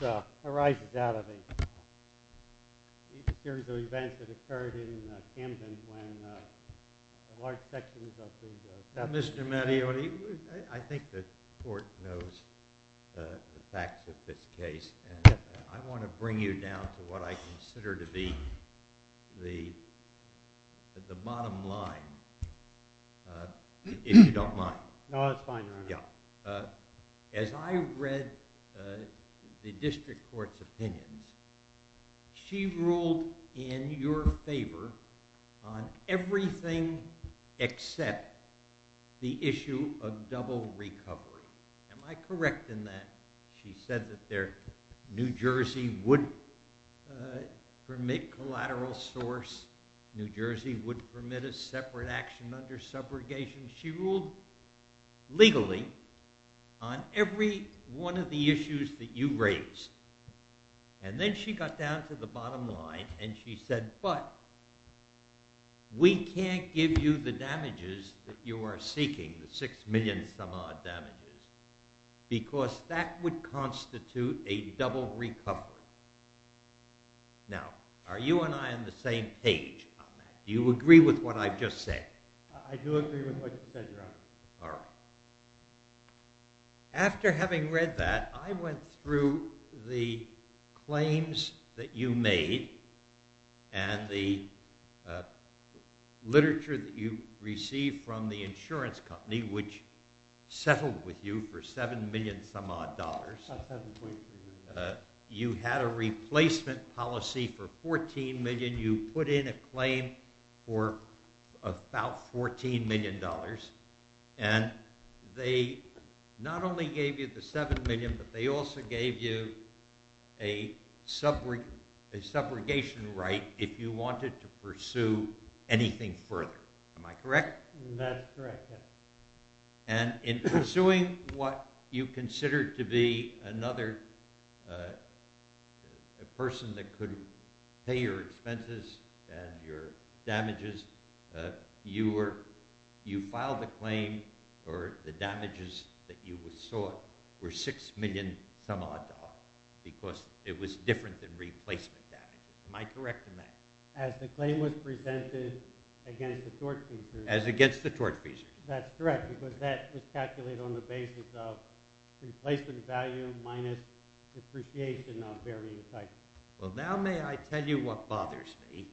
It arises out of a series of events that occurred in Camden when large sections of the... Mr. Mattioli, I think the court knows the facts of this case. And I want to bring you down to what I consider to be the bottom line, if you don't mind. No, that's fine, Your Honor. As I read the district court's opinions, she ruled in your favor on everything except the issue of double recovery. Am I correct in that? She said that New Jersey would permit collateral source, New Jersey would permit a separate action under subrogation. She ruled legally on every one of the issues that you raised. And then she got down to the bottom line and she said, but we can't give you the damages that you are seeking, the six million some odd damages, because that would constitute a double recovery. Now, are you and I on the same page on that? Do you agree with what I've just said? I do agree with what you've said, Your Honor. All right. After having read that, I went through the claims that you made and the literature that you received from the insurance company, which settled with you for seven million some odd dollars. About 7.3 million. You had a replacement policy for 14 million. You put in a claim for about $14 million. And they not only gave you the seven million, but they also gave you a subrogation right if you wanted to pursue anything further. Am I correct? That is correct, yes. And in pursuing what you considered to be another person that could pay your expenses and your damages, you filed a claim for the damages that you sought were six million some odd dollars, because it was different than replacement damages. Am I correct in that? As the claim was presented against the torch feesers. That's correct, because that was calculated on the basis of replacement value minus depreciation on varying cycles. Well, now may I tell you what bothers me?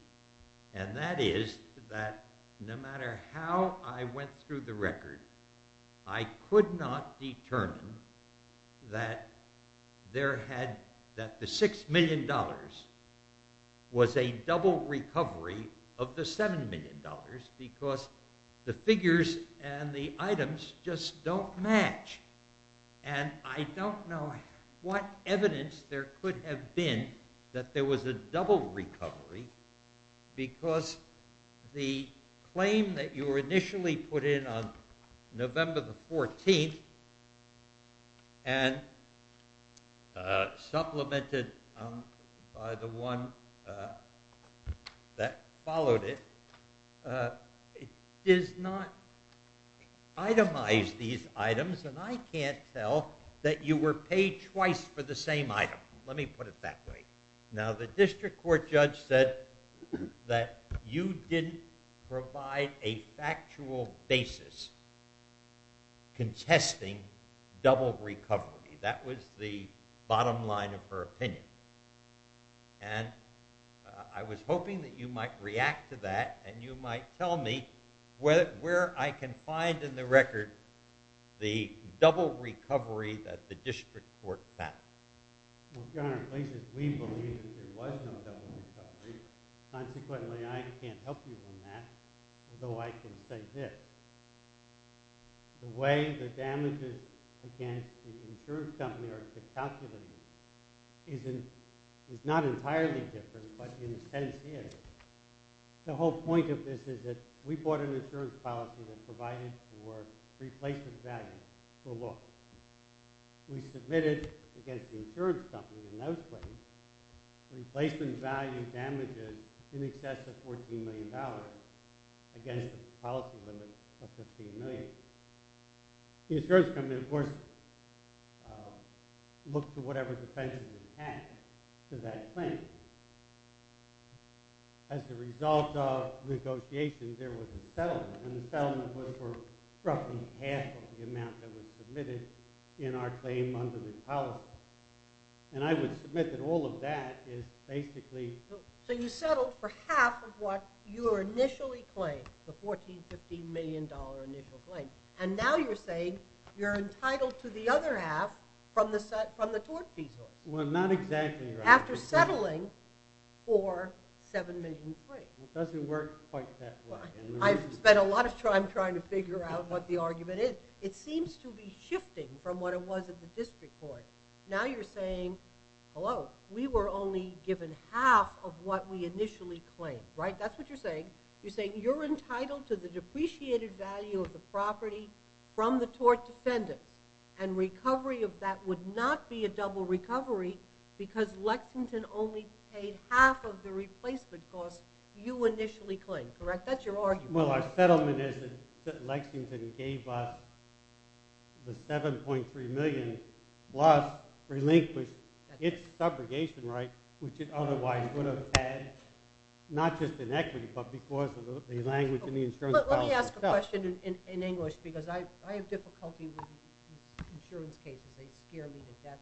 And that is that no matter how I went through the record, I could not determine that the six million dollars was a double recovery of the seven million dollars, because the figures and the items just don't match. And I don't know what evidence there could have been that there was a double recovery, because the claim that you were initially put in on November the 14th, and supplemented by the one that followed it, does not itemize these items, and I can't tell that you were paid twice for the same item. Let me put it that way. Now the district court judge said that you didn't provide a factual basis contesting double recovery. That was the bottom line of her opinion. And I was hoping that you might react to that, and you might tell me where I can find in the record the double recovery that the district court found. Well, Your Honor, at least we believe that there was no double recovery. Consequently, I can't help you on that, although I can say this. The way the damages against the insurance company are calculated is not entirely different, but in a sense is. The whole point of this is that we bought an insurance policy that provided for replacement value for look. We submitted against the insurance company in those claims replacement value damages in excess of $14 million against a policy limit of $15 million. The insurance company, of course, looked to whatever defense was attached to that claim. As a result of negotiations, there was a settlement, and the settlement was for roughly half of the amount that was submitted in our claim under the policy. And I would submit that all of that is basically... So you settled for half of what you initially claimed, the $14-15 million initial claim, and now you're saying you're entitled to the other half from the tort fee source. Well, not exactly. After settling for $7 million free. It doesn't work quite that way. I've spent a lot of time trying to figure out what the argument is. It seems to be shifting from what it was at the district court. Now you're saying, hello, we were only given half of what we initially claimed, right? That's what you're saying. You're saying you're entitled to the depreciated value of the property from the tort defendant, and recovery of that would not be a double recovery because Lexington only paid half of the replacement cost you initially claimed, correct? That's your argument. Well, our settlement is that Lexington gave us the $7.3 million, plus relinquished its subrogation rights, which it otherwise would have had, not just in equity but because of the language in the insurance policy itself. Let me ask a question in English because I have difficulty with insurance cases. They scare me to death.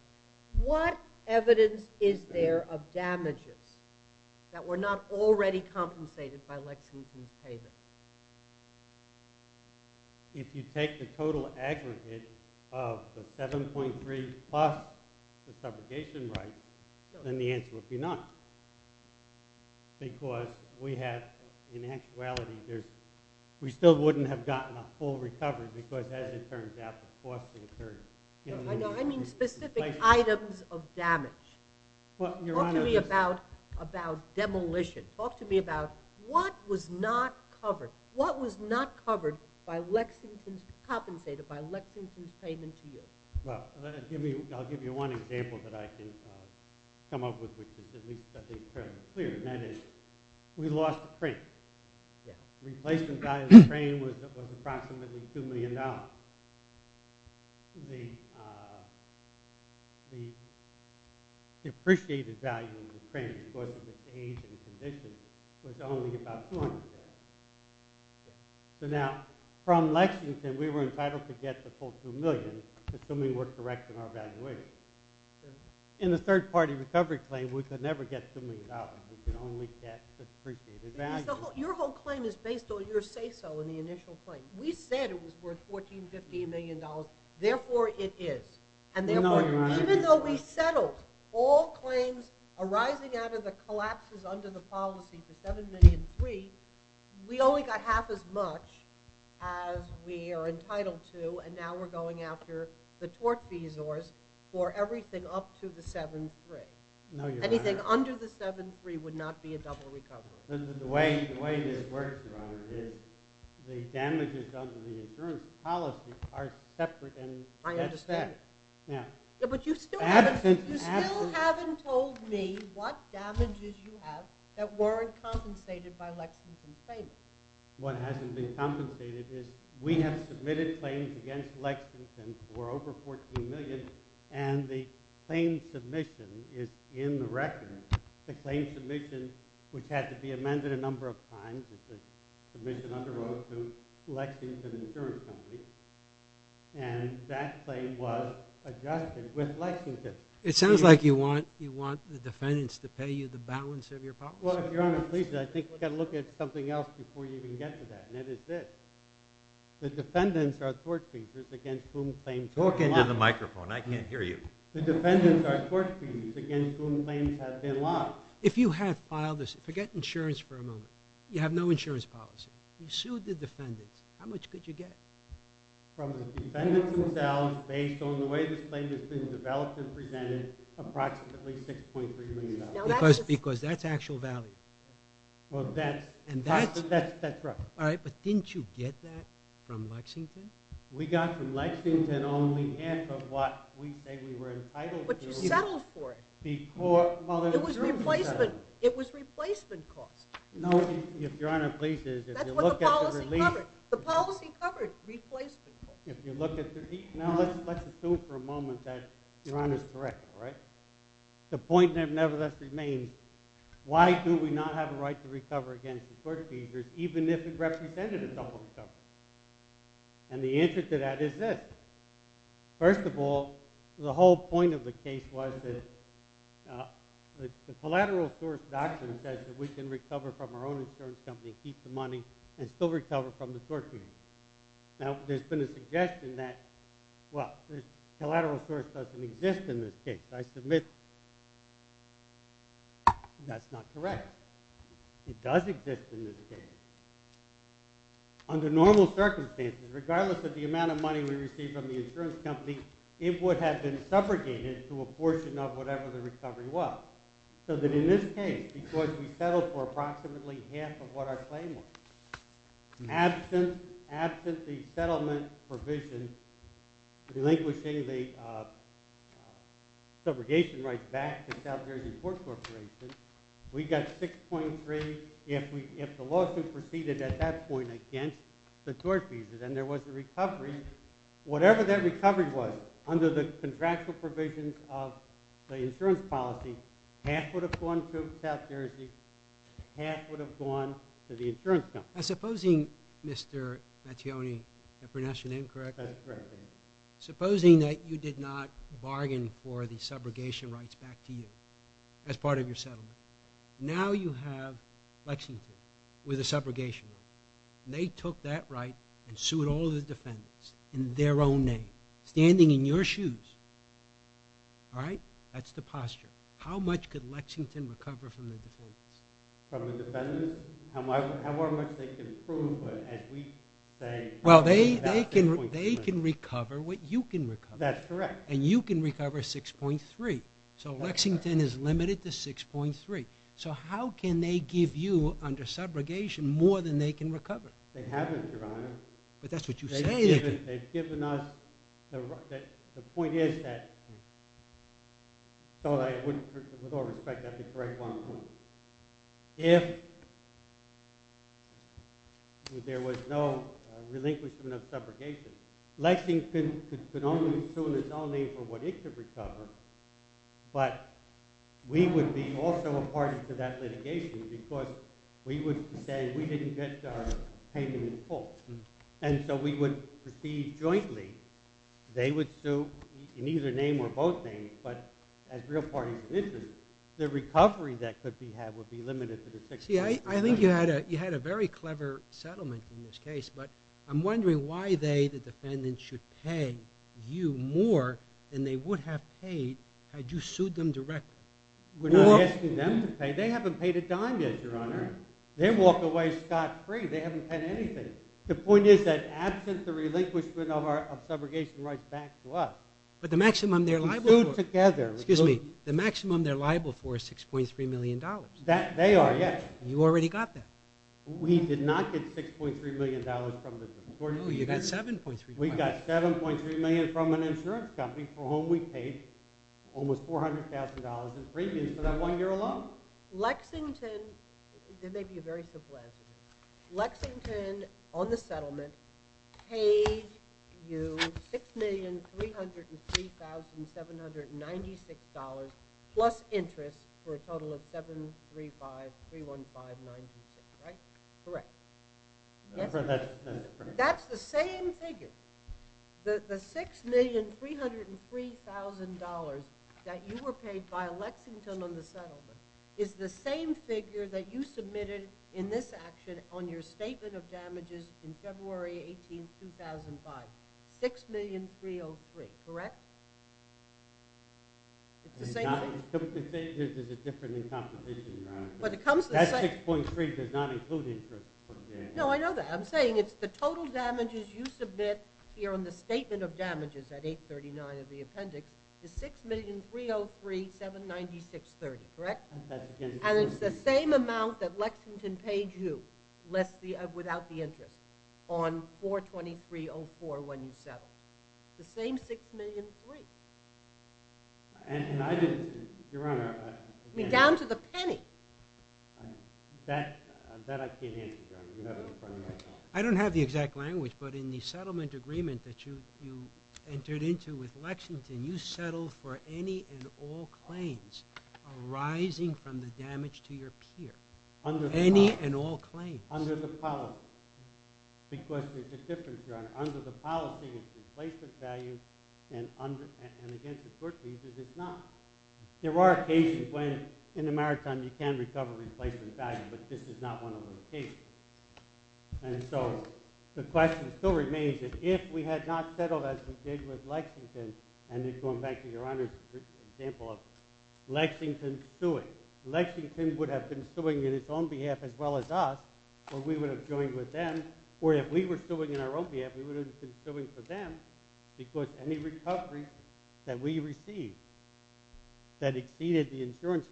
What evidence is there of damages that were not already compensated by Lexington's payment? If you take the total aggregate of the $7.3 million plus the subrogation rights, then the answer would be none because we have, in actuality, we still wouldn't have gotten a full recovery because, as it turns out, I mean specific items of damage. Talk to me about demolition. Talk to me about what was not covered, what was not compensated by Lexington's payment to you. Well, I'll give you one example that I can come up with which is at least fairly clear, and that is we lost the crane. Replacement value of the crane was approximately $2 million. The appreciated value of the crane because of its age and condition was only about $200,000. So now from Lexington, we were entitled to get the full $2 million, assuming we're correct in our valuation. In the third-party recovery claim, we could never get $2 million. We could only get the appreciated value. Your whole claim is based on your say-so in the initial claim. We said it was worth $1,450 million. Therefore, it is. And therefore, even though we settled all claims arising out of the collapses under the policy for $7.3 million, we only got half as much as we are entitled to, and now we're going after the tort fees for everything up to the $7.3 million. Anything under the $7.3 million would not be a double recovery. The way this works, Your Honor, is the damages under the insurance policy are separate. I understand. But you still haven't told me what damages you have that weren't compensated by Lexington's payment. What hasn't been compensated is we have submitted claims against Lexington for over $14 million, and the claim submission is in the record. The claim submission, which had to be amended a number of times as the submission underwent to Lexington Insurance Company, and that claim was adjusted with Lexington. It sounds like you want the defendants to pay you the balance of your policy. Well, if Your Honor pleases, I think we've got to look at something else before you can get to that, and that is this. The defendants are tort fees against whom claims have been lodged. Talk into the microphone. I can't hear you. The defendants are tort fees against whom claims have been lodged. If you have filed this, forget insurance for a moment. You have no insurance policy. You sued the defendants. How much could you get? From the defendants themselves, based on the way this claim has been developed and presented, approximately $6.3 million. Because that's actual value. That's correct. All right, but didn't you get that from Lexington? We got from Lexington only half of what we say we were entitled to. But you settled for it. It was replacement cost. No, if Your Honor pleases. That's what the policy covered. The policy covered replacement cost. Now let's assume for a moment that Your Honor's correct, all right? The point that nevertheless remains, why do we not have a right to recover against the tort fees even if it represented a double recovery? And the answer to that is this. First of all, the whole point of the case was that the collateral source document says that we can recover from our own insurance company, keep the money, and still recover from the tort fees. Now there's been a suggestion that, well, the collateral source doesn't exist in this case. I submit that's not correct. It does exist in this case. Under normal circumstances, regardless of the amount of money we received from the insurance company, it would have been subrogated to a portion of whatever the recovery was. So that in this case, because we settled for approximately half of what our claim was, absent the settlement provision relinquishing the subrogation rights back to South Jersey Port Corporation, we got 6.3 if the lawsuit proceeded at that point against the tort fees. And there was a recovery. Whatever that recovery was, under the contractual provisions of the insurance policy, half would have gone to South Jersey, half would have gone to the insurance company. Now supposing, Mr. Mattione, I pronounced your name correctly? That's correct. Supposing that you did not bargain for the subrogation rights back to you as part of your settlement. Now you have Lexington with a subrogation right. They took that right and sued all the defendants in their own name, standing in your shoes. All right? That's the posture. How much could Lexington recover from the defendants? From the defendants? How much they can prove as we say? Well, they can recover what you can recover. That's correct. And you can recover 6.3. So Lexington is limited to 6.3. So how can they give you under subrogation more than they can recover? They haven't, Your Honor. But that's what you say they can. They've given us the right. The point is that, with all respect, I have to correct one point. If there was no relinquishment of subrogation, Lexington could only sue in its own name for what it could recover, but we would be also a party to that litigation because we would say we didn't get our payment in full. And so we would proceed jointly. They would sue in either name or both names, but as real parties of interest, the recovery that could be had would be limited to the 6.3. See, I think you had a very clever settlement in this case, but I'm wondering why they, the defendants, should pay you more than they would have paid had you sued them directly. We're not asking them to pay. They haven't paid a dime yet, Your Honor. They walk away scot-free. They haven't paid anything. The point is that, absent the relinquishment of our subrogation rights back to us, we sued together. Excuse me. The maximum they're liable for is $6.3 million. They are, yes. You already got that. We did not get $6.3 million from them. Oh, you got $7.3 million. We got $7.3 million from an insurance company for whom we paid almost $400,000 in premiums for that one year alone. Lexington, there may be a very simple answer. Lexington, on the settlement, paid you $6,303,796 plus interest for a total of $735,315.96, right? Correct. That's the same figure. The $6,303,000 that you were paid by Lexington on the settlement is the same figure that you submitted in this action on your statement of damages in February 18, 2005. $6,303,000, correct? It's the same thing? It's a different composition. That $6.3 does not include interest. No, I know that. I'm saying it's the total damages you submit here on the statement of damages at 839 of the appendix is $6,303,796.30, correct? And it's the same amount that Lexington paid you without the interest on 423.04 when you settled. The same $6,303,000. And I just, Your Honor... Down to the penny. That I can't answer, Your Honor. I don't have the exact language, but in the settlement agreement that you entered into with Lexington, you settled for any and all claims arising from the damage to your peer. Any and all claims. Under the policy. Because there's a difference, Your Honor. Under the policy, it's replacement value, and against the court cases, it's not. There are occasions when in the maritime you can recover replacement value, but this is not one of those cases. And so the question still remains that if we had not settled as we did with Lexington and just going back to Your Honor's example of Lexington suing, Lexington would have been suing in its own behalf as well as us, or we would have joined with them. Or if we were suing in our own behalf, we would have been suing for them because any recovery that we received that exceeded the insurance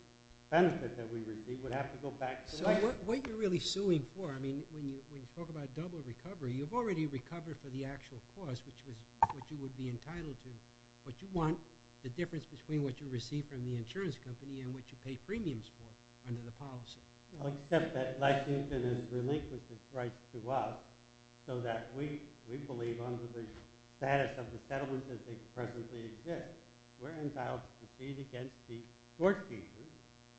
benefit that we received would have to go back to Lexington. So what you're really suing for, I mean, when you talk about double recovery, you've already recovered for the actual cost, which is what you would be entitled to. What you want, the difference between what you receive from the insurance company and what you pay premiums for under the policy. Except that Lexington has relinquished its rights to us so that we believe under the status of the settlement as it presently exists, we're entitled to proceed against the court cases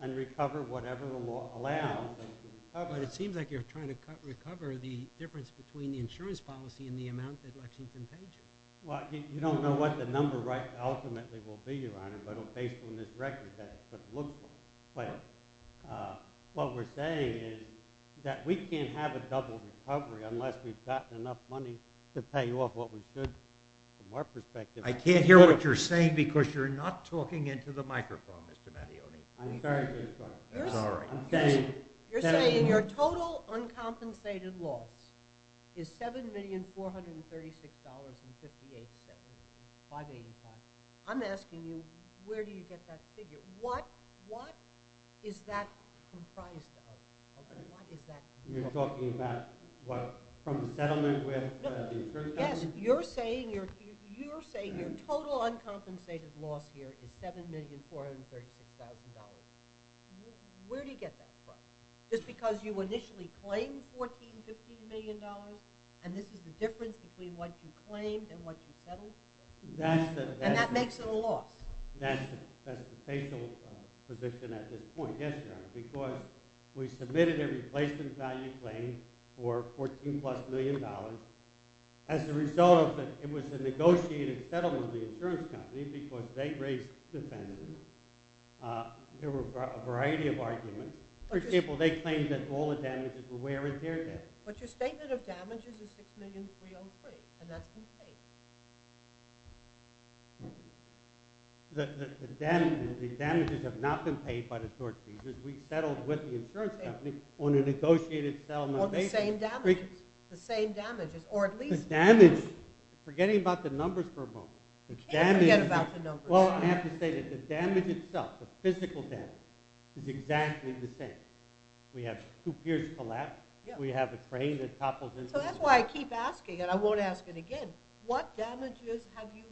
and recover whatever law allows us to recover. But it seems like you're trying to recover the difference between the insurance policy and the amount that Lexington pays you. Well, you don't know what the number ultimately will be, Your Honor, but based on this record, that's what it looks like. What we're saying is that we can't have a double recovery unless we've gotten enough money to pay off what we should from our perspective. I can't hear what you're saying because you're not talking into the microphone, Mr. Mattione. I'm sorry to interrupt. You're saying your total uncompensated loss is $7,436,585. I'm asking you, where do you get that figure? What is that comprised of? You're talking about from the settlement with the insurance company? Yes, you're saying your total uncompensated loss here is $7,436,000. Where do you get that from? Just because you initially claimed $14-$15 million and this is the difference between what you claimed and what you settled? And that makes it a loss. That's the facial position at this point, yes, Your Honor, because we submitted a replacement value claim for $14-plus million. As a result of that, it was a negotiated settlement There were a variety of arguments. For example, they claimed that all the damages were where is their debt. But your statement of damages is $6,303,000 and that's been paid. The damages have not been paid by the tort fees. We settled with the insurance company on a negotiated settlement basis. On the same damages, or at least... The damage, forgetting about the numbers for a moment. You can't forget about the numbers. Well, I have to say that the damage itself, the physical damage, is exactly the same. We have two piers collapse. We have a crane that topples into the... So that's why I keep asking, and I won't ask it again. What damages have you...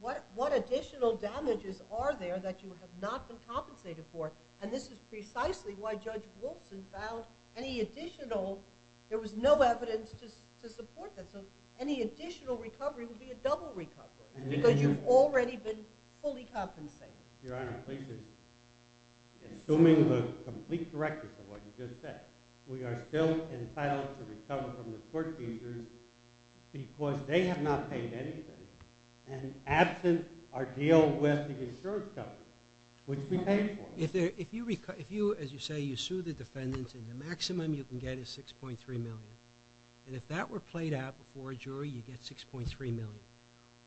What additional damages are there that you have not been compensated for? And this is precisely why Judge Wilson found any additional... There was no evidence to support that. So any additional recovery would be a double recovery because you've already been fully compensated. Your Honor, please just... Assuming the complete directness of what you just said, we are still entitled to recover from the tort fees because they have not paid anything and absent our deal with the insurance company, which we paid for. If you, as you say, you sue the defendants and the maximum you can get is $6,300,000, and if that were played out before a jury, you'd get $6,300,000.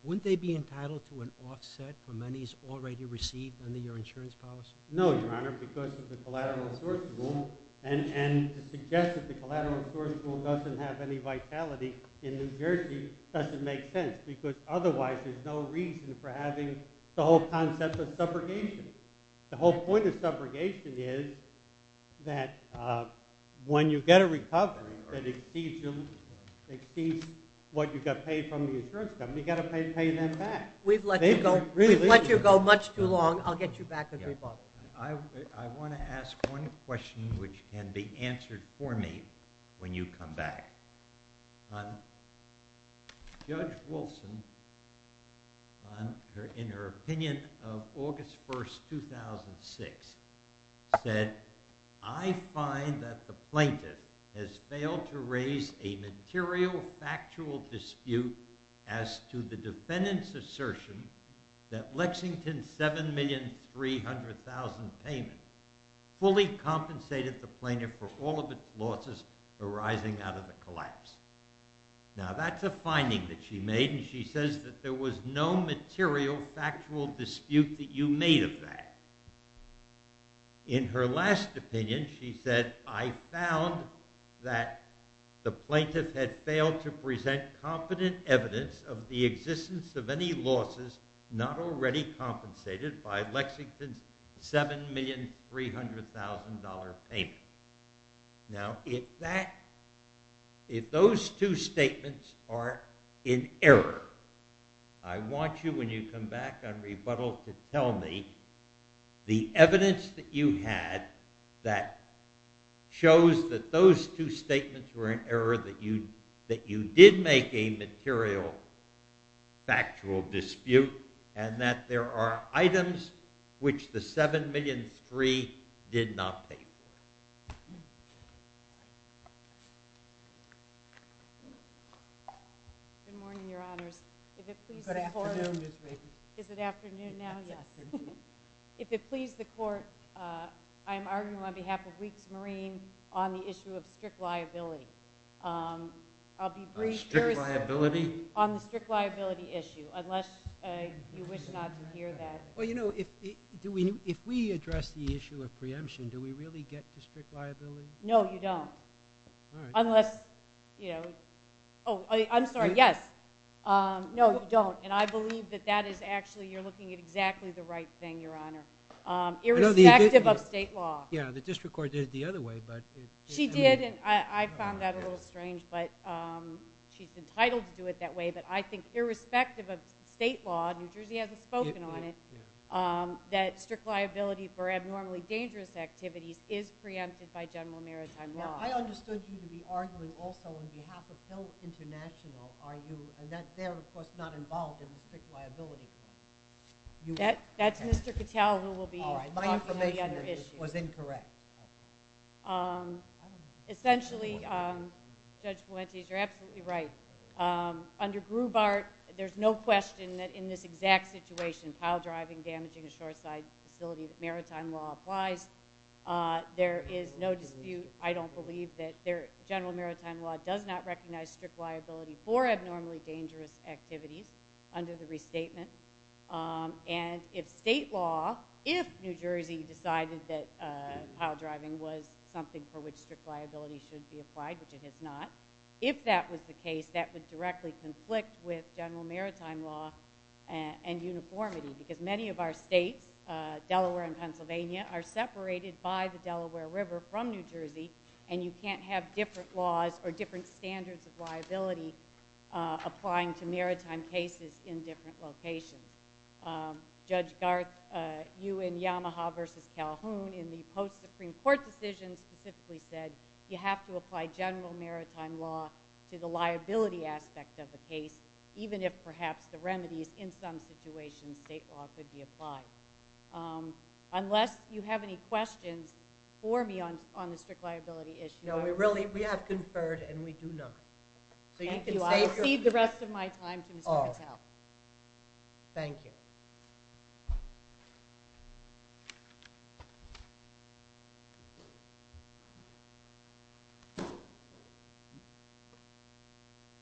Wouldn't they be entitled to an offset for monies already received under your insurance policy? No, Your Honor, because of the collateral resource rule. And to suggest that the collateral resource rule doesn't have any vitality in New Jersey doesn't make sense because otherwise there's no reason for having the whole concept of subrogation. The whole point of subrogation is that when you get a recovery that exceeds what you got paid from the insurance company, you got to pay them back. We've let you go much too long. I'll get you back if you're bothered. I want to ask one question which can be answered for me when you come back. Judge Wilson, in her opinion of August 1, 2006, said, I find that the plaintiff has failed to raise a material factual dispute as to the defendant's assertion that Lexington's $7,300,000 payment fully compensated the plaintiff for all of its losses arising out of the collapse. Now, that's a finding that she made, and she says that there was no material factual dispute that you made of that. In her last opinion, she said, I found that the plaintiff had failed to present competent evidence of the existence of any losses not already compensated by Lexington's $7,300,000 payment. Now, if those two statements are in error, I want you, when you come back on rebuttal, to tell me the evidence that you had that shows that those two statements were in error that you did make a material factual dispute and that there are items which the $7,300,000 did not pay for. Good morning, Your Honors. Good afternoon, Ms. Reagan. Is it afternoon now? Yes. If it pleases the Court, I am arguing on behalf of Weeks Marine on the issue of strict liability. Strict liability? On the strict liability issue, unless you wish not to hear that. Well, you know, if we address the issue of preemption, do we really get to strict liability? No, you don't. Unless, you know... Oh, I'm sorry, yes. No, you don't, and I believe that that is actually, you're looking at exactly the right thing, Your Honor, irrespective of state law. Yeah, the District Court did it the other way, but... She did, and I found that a little strange, but she's entitled to do it that way, but I think irrespective of state law, New Jersey hasn't spoken on it, that strict liability for abnormally dangerous activities is preempted by general maritime law. Now, I understood you to be arguing also on behalf of Hill International. Are you, and they're, of course, not involved in the strict liability claim. That's Mr. Cattell who will be talking on the other issue. It was incorrect. Essentially, Judge Fuentes, you're absolutely right. Under Grubart, there's no question that in this exact situation, piledriving, damaging a shoreside facility, that maritime law applies. There is no dispute, I don't believe, that general maritime law does not recognize strict liability for abnormally dangerous activities under the restatement, and if state law, if New Jersey decided that piledriving was something for which strict liability should be applied, which it has not, if that was the case, that would directly conflict with general maritime law and uniformity because many of our states, Delaware and Pennsylvania, are separated by the Delaware River from New Jersey, and you can't have different laws or different standards of liability applying to maritime cases in different locations. Judge Garth, you in Yamaha v. Calhoun in the post-Supreme Court decision specifically said you have to apply general maritime law to the liability aspect of the case, even if perhaps the remedies in some situations state law could be applied. Unless you have any questions for me on the strict liability issue... No, we have conferred and we do not. Thank you. I will cede the rest of my time to Mr. Cattell. Thank you.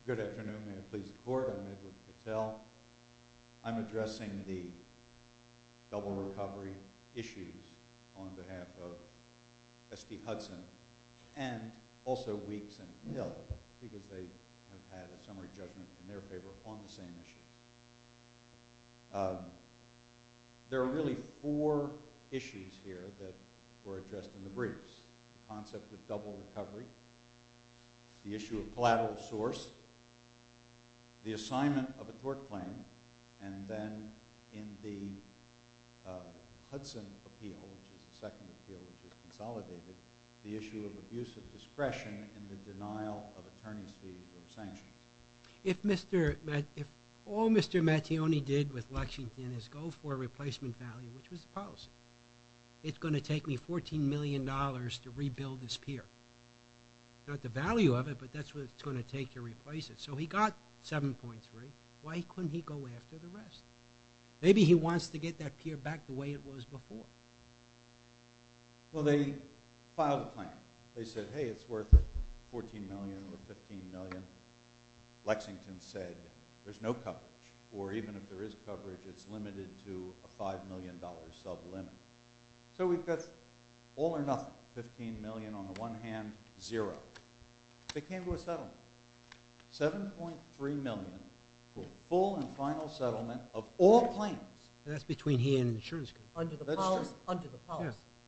Good afternoon. May it please the Court, I'm Edward Cattell. I'm addressing the double recovery issues on behalf of S.P. Hudson and also Weeks and Hill because they have had a summary judgment in their favor on the same issue. There are really four issues here that were addressed in the briefs. The concept of double recovery, the issue of collateral source, the assignment of a tort claim, and then in the Hudson appeal, which is the second appeal which is consolidated, the issue of abuse of discretion and the denial of attorney's fees or sanctions. If all Mr. Mattione did with Lexington is go for a replacement value, which was the policy, it's going to take me $14 million to rebuild this pier. Not the value of it, but that's what it's going to take to replace it. So he got 7.3. Why couldn't he go after the rest? Maybe he wants to get that pier back the way it was before. Well, they filed a claim. They said, hey, it's worth $14 million or $15 million. Lexington said, there's no coverage, or even if there is coverage, it's limited to a $5 million sublimit. So we've got all or nothing, $15 million on the one hand, zero. They came to a settlement. $7.3 million for full and final settlement of all claims. That's between he and insurance company. Under the policy.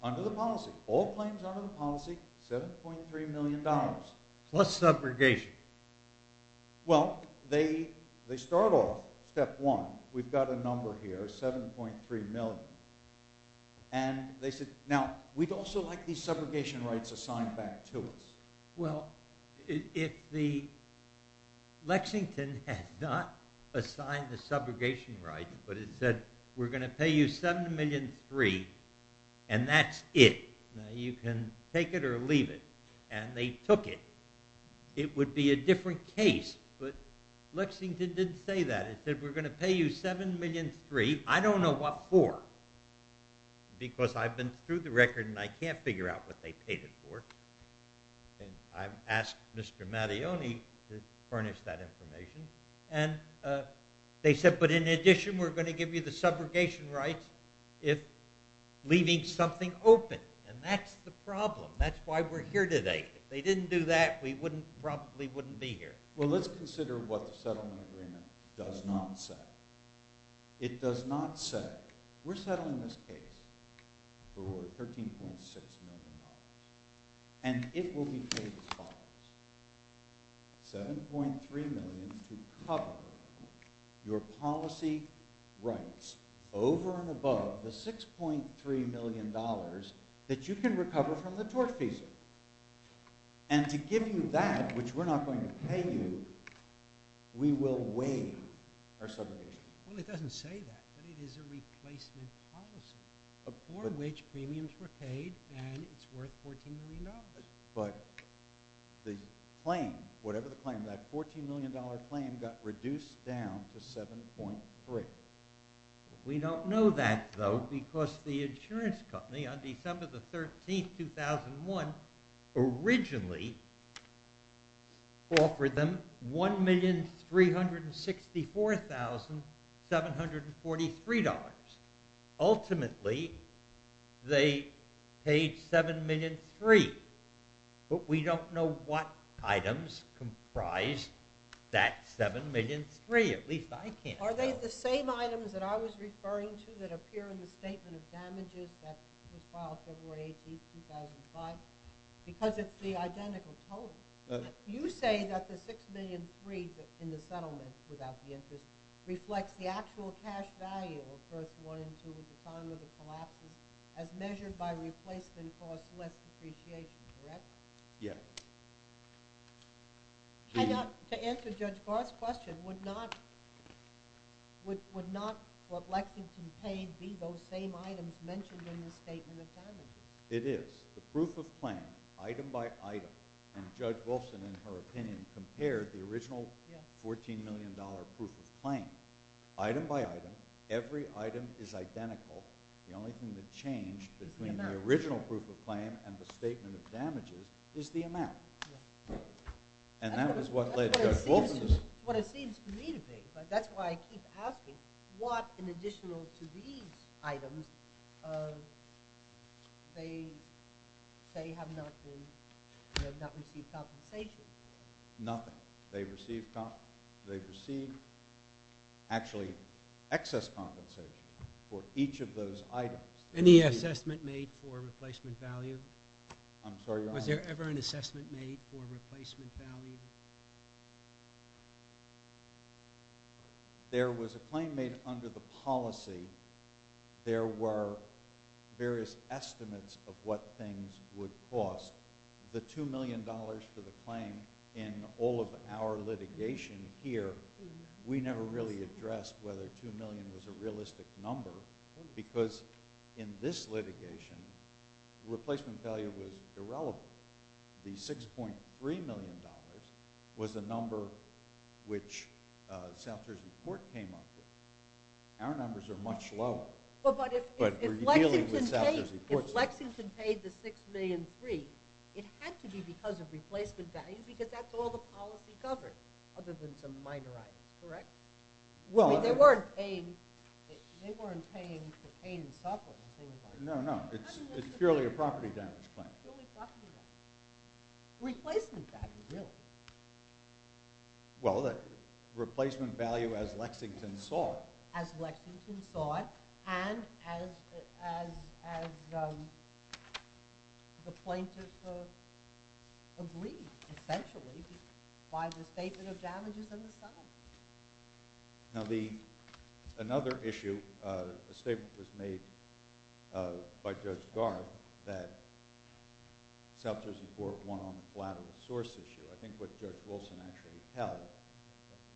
Under the policy. All claims under the policy, $7.3 million. Plus subrogation. Well, they start off, step one, we've got a number here, $7.3 million. And they said, now, we'd also like these subrogation rights assigned back to us. Well, if the, Lexington had not assigned the subrogation rights, but it said, we're going to pay you $7.3 million, and that's it. You can take it or leave it. And they took it. It would be a different case. But Lexington didn't say that. It said, we're going to pay you $7.3 million. I don't know what for. Because I've been through the record and I can't figure out what they paid it for. And I've asked Mr. Mattione to furnish that information. And they said, but in addition, we're going to give you the subrogation rights if leaving something open. And that's the problem. That's why we're here today. If they didn't do that, we probably wouldn't be here. Well, let's consider what the settlement agreement does not say. It does not say, we're settling this case for $13.6 million. And it will be paid as follows. $7.3 million to cover your policy rights over and above the $6.3 million that you can recover from the tort fees. And to give you that, which we're not going to pay you, we will waive our subrogation. Well, it doesn't say that. But it is a replacement policy for which premiums were paid and it's worth $14 million. But the claim, whatever the claim, that $14 million claim got reduced down to 7.3. We don't know that, though, because the insurance company on December the 13th, 2001, originally offered them $1,364,743. Ultimately, they paid $7.3 million. But we don't know what items comprised that $7.3 million. At least I can't tell. Are they the same items that I was referring to that appear in the Statement of Damages that was filed February 18th, 2005? Because it's the identical total. You say that the $6.3 million in the settlement, without the interest, reflects the actual cash value of first one and two at the time of the collapses as measured by replacement costs less depreciation, correct? Yes. To answer Judge Barth's question, would not what Lexington paid be those same items mentioned in the Statement of Damages? It is. The proof of claim, item by item, and Judge Wilson, in her opinion, compared the original $14 million proof of claim. Item by item, every item is identical. The only thing that changed between the original proof of claim and the Statement of Damages is the amount. And that is what led Judge Wilson to say. What it seems to me to be, but that's why I keep asking, what in addition to these items, they have not received compensation? Nothing. They've received actually excess compensation for each of those items. Any assessment made for replacement value? I'm sorry, Your Honor? Was there ever an assessment made for replacement value? There was a claim made under the policy. There were various estimates of what things would cost. The $2 million for the claim in all of our litigation here, we never really addressed whether $2 million was a realistic number because in this litigation, replacement value was irrelevant. The $6.3 million was a number which South Jersey Court came up with. Our numbers are much lower. But if Lexington paid the $6.3 million, it had to be because of replacement value because that's all the policy covered other than some minor items, correct? They weren't paying for pain and suffering. No, no. It's purely a property damage claim. Replacement value, really. Well, replacement value as Lexington saw it. As Lexington saw it and as the plaintiffs agreed, essentially, by the statement of damages and the sum. Now, another issue, a statement was made by Judge Garb that South Jersey Court won on the collateral source issue. I think what Judge Wilson actually held,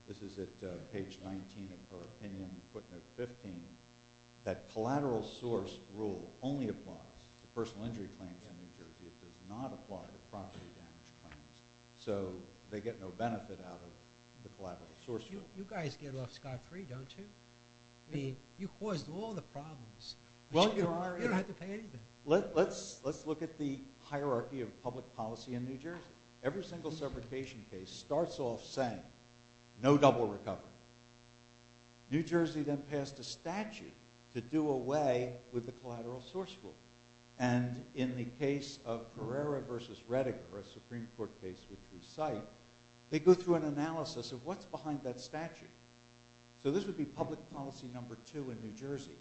this is at page 19 of her opinion, footnote 15, that collateral source rule only applies to personal injury claims in New Jersey. It does not apply to property damage claims. So they get no benefit out of the collateral source rule. You guys get off scot-free, don't you? I mean, you caused all the problems. Well, you are. You don't have to pay anything. Let's look at the hierarchy of public policy in New Jersey. Every single separation case starts off saying no double recovery. New Jersey then passed a statute to do away with the collateral source rule. And in the case of Herrera v. Reddiger, a Supreme Court case which we cite, they go through an analysis of what's behind that statute. So this would be public policy number two in New Jersey.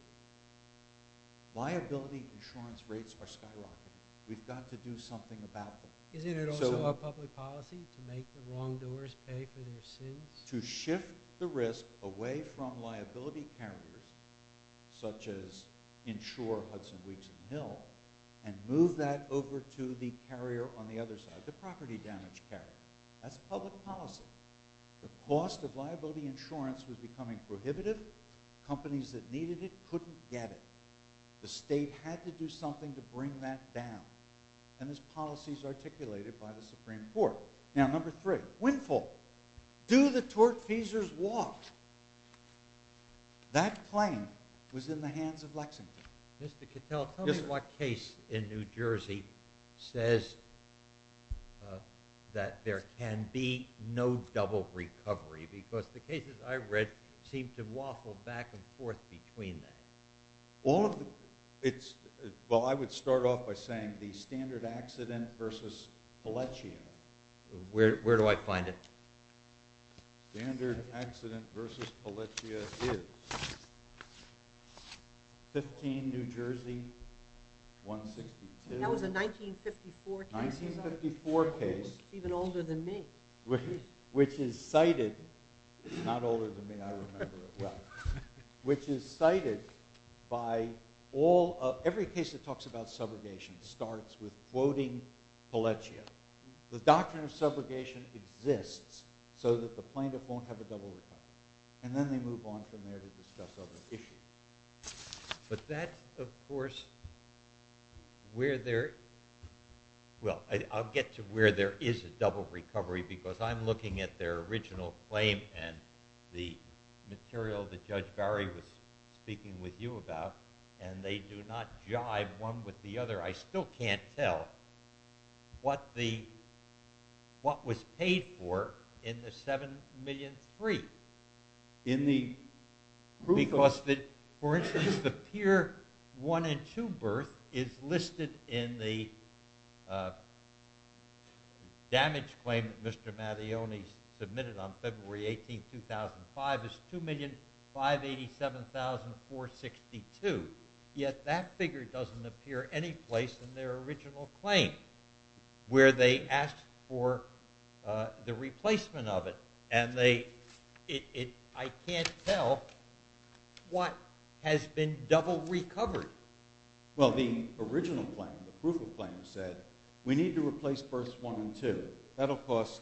Liability insurance rates are skyrocketing. We've got to do something about them. Isn't it also a public policy to make the wrongdoers pay for their sins? To shift the risk away from liability carriers such as Insure, Hudson Weeks, and Mill and move that over to the carrier on the other side, the property damage carrier. That's public policy. The cost of liability insurance was becoming prohibitive. Companies that needed it couldn't get it. The state had to do something to bring that down. And this policy is articulated by the Supreme Court. Now, number three, windfall. Do the tortfeasors walk? That claim was in the hands of Lexington. Mr. Cattell, tell me what case in New Jersey says that there can be no double recovery because the cases I've read seem to waffle back and forth between them. Well, I would start off by saying the standard accident versus Palencia. Where do I find it? Standard accident versus Palencia is 15, New Jersey, 162. That was a 1954 case. 1954 case. Even older than me. Which is cited, not older than me, I remember it well, which is cited by all, every case that talks about subrogation starts with quoting Palencia. The doctrine of subrogation exists so that the plaintiff won't have a double recovery. And then they move on from there to discuss other issues. But that, of course, where there, well, I'll get to where there is a double recovery because I'm looking at their original claim and the material that Judge Barry was speaking with you about, and they do not jive one with the other. I still can't tell what the, what was paid for in the 7,000,003. In the proof? Because, for instance, the peer one and two birth is listed in the damage claim that Mr. Mattione submitted on February 18, 2005 as 2,587,462. Yet that figure doesn't appear any place in their original claim where they asked for the replacement of it. And they, it, I can't tell what has been double recovered. Well, the original claim, the proof of claim said we need to replace births one and two. That'll cost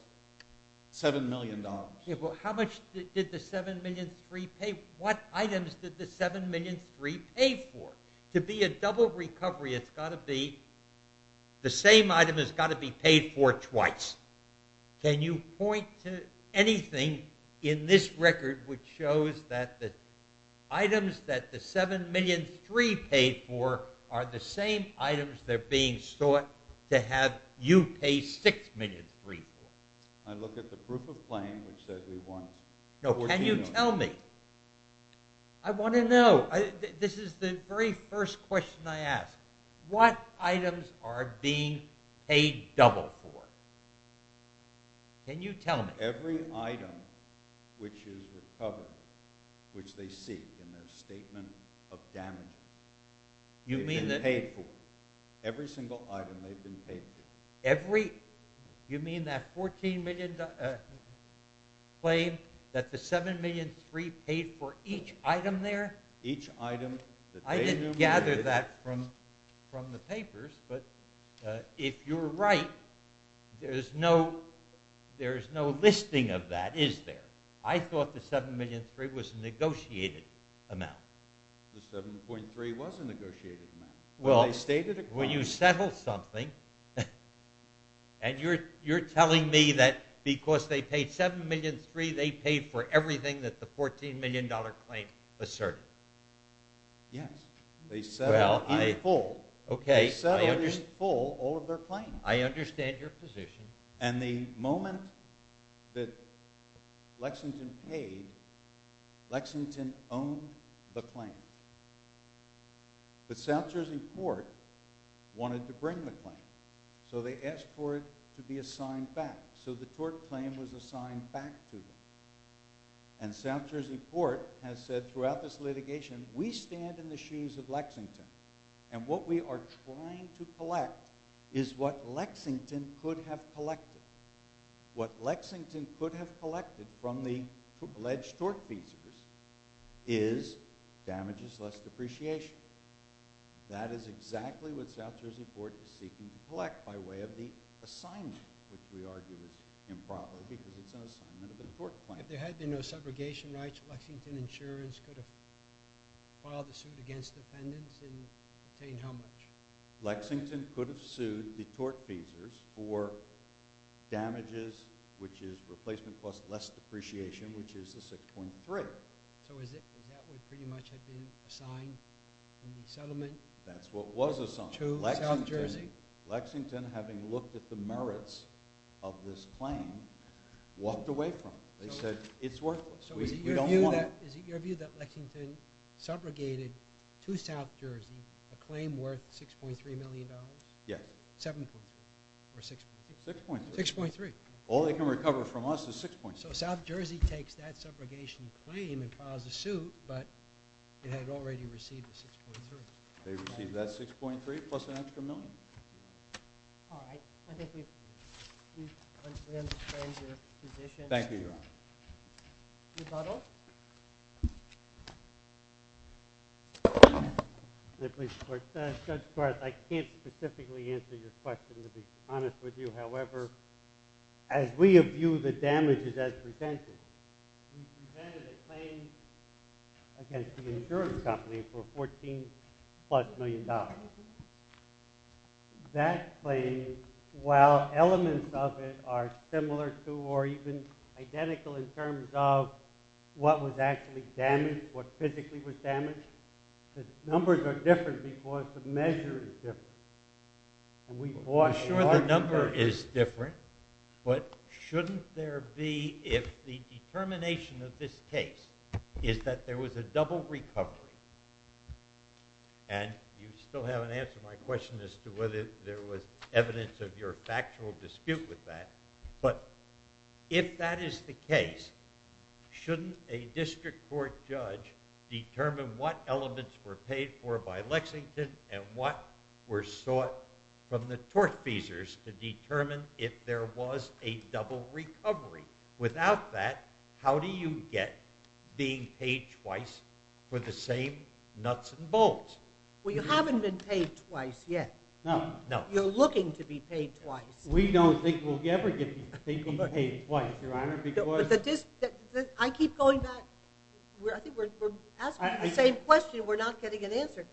$7 million. Yeah, but how much did the 7,000,003 pay? What items did the 7,000,003 pay for? To be a double recovery, it's got to be, the same item has got to be paid for twice. Can you point to anything in this record which shows that the items that the 7,000,003 paid for are the same items that are being sought to have you pay 6,000,003 for? I looked at the proof of claim which said we want 14 of them. No, can you tell me? I want to know. This is the very first question I ask. What items are being paid double for? Can you tell me? For every item which is recovered, which they seek in their statement of damage, they've been paid for. Every single item they've been paid for. Every, you mean that 14 million claim that the 7,000,003 paid for each item there? Each item that they numerated. I didn't gather that from the papers, but if you're right, there's no listing of that, is there? I thought the 7,000,003 was a negotiated amount. The 7,000,003 was a negotiated amount. Well, you settled something, and you're telling me that because they paid 7,000,003, they paid for everything that the 14 million dollar claim asserted? Yes. They settled in full all of their claims. I understand your position. And the moment that Lexington paid, Lexington owned the claim. But South Jersey Court wanted to bring the claim, so they asked for it to be assigned back. So the tort claim was assigned back to them. And South Jersey Court has said throughout this litigation, we stand in the shoes of Lexington, and what we are trying to collect is what Lexington could have collected. What Lexington could have collected from the alleged tort fees is damages less depreciation. That is exactly what South Jersey Court is seeking to collect by way of the assignment, which we argue is improper because it's an assignment of the tort claim. If there had been no subrogation rights, Lexington Insurance could have filed a suit against the defendants and obtained how much? Lexington could have sued the tort fees for damages, which is replacement cost less depreciation, which is the 6.3. So is that what pretty much had been assigned in the settlement? That's what was assigned. To South Jersey? Lexington, having looked at the merits of this claim, walked away from it. They said it's worthless. We don't want it. So is it your view that Lexington subrogated to South Jersey a claim worth $6.3 million? Yes. 7.3 or 6.3? 6.3. 6.3. All they can recover from us is 6.3. So South Jersey takes that subrogation claim and files a suit, but it had already received the 6.3. They received that 6.3 plus an extra million. All right. I think we've understood your position. Thank you, Your Honor. Judge Barth, I can't specifically answer your question, to be honest with you. However, as we view the damages as presented, we presented a claim against the insurance company for $14-plus million. That claim, while elements of it are similar to or even identical in terms of what was actually damaged, what physically was damaged, the numbers are different because the measure is different. I'm sure the number is different, but shouldn't there be, if the determination of this case is that there was a double recovery and you still haven't answered my question as to whether there was evidence of your factual dispute with that, but if that is the case, shouldn't a district court judge determine what elements were paid for by Lexington and what were sought from the tortfeasors to determine if there was a double recovery? Without that, how do you get being paid twice for the same nuts and bolts? Well, you haven't been paid twice yet. No. You're looking to be paid twice. We don't think we'll ever get people paid twice, Your Honor. I keep going back. I think we're asking the same question. We're not getting an answer.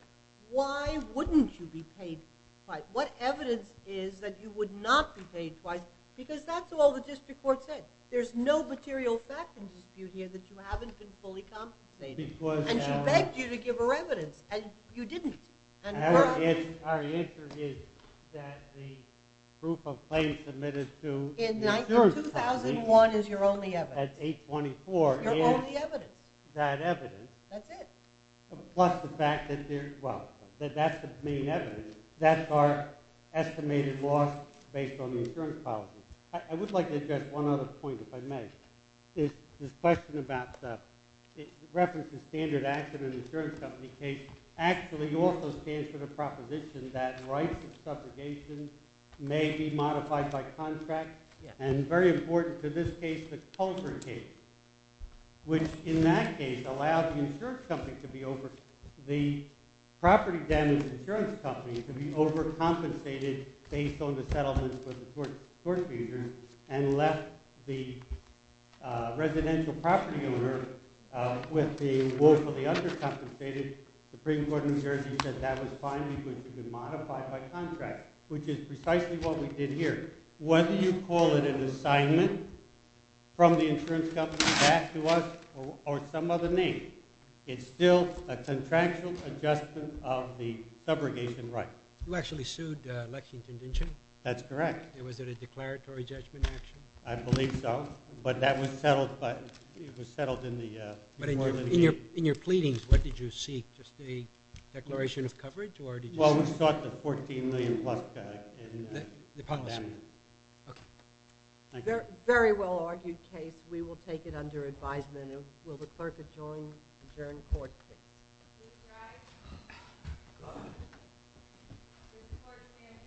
Why wouldn't you be paid twice? What evidence is that you would not be paid twice? Because that's all the district court said. There's no material factual dispute here that you haven't been fully compensated. And she begged you to give her evidence, and you didn't. Our answer is that the proof of claim submitted to the insurance policy In 2001 is your only evidence. That's 824. Your only evidence. That evidence. That's it. Plus the fact that there's, well, that that's the main evidence. That's our estimated loss based on the insurance policy. I would like to address one other point, if I may. This question about the reference to standard action in an insurance company case actually also stands for the proposition that rights of subjugation may be modified by contract. And very important to this case, the Coulter case, which in that case allowed the insurance company to be over. The property damage insurance company to be overcompensated based on the settlements with the tort abusers and left the residential property owner with the woefully undercompensated. The Supreme Court in New Jersey said that was fine because it could be modified by contract, which is precisely what we did here. Whether you call it an assignment from the insurance company back to us or some other name, it's still a contractual adjustment of the subjugation right. You actually sued Lexington, didn't you? That's correct. Was it a declaratory judgment action? I believe so. But that was settled, but it was settled in the New Orleans case. But in your pleadings, what did you seek? Just a declaration of coverage or did you seek? Well, we sought the $14 million plus in damages. The policy. Okay. Thank you. Very well argued case. We will take it under advisement. And will the clerk adjourn court? He's right. This court stands adjourned until Thursday, November 6th at 10 a.m. Thank you.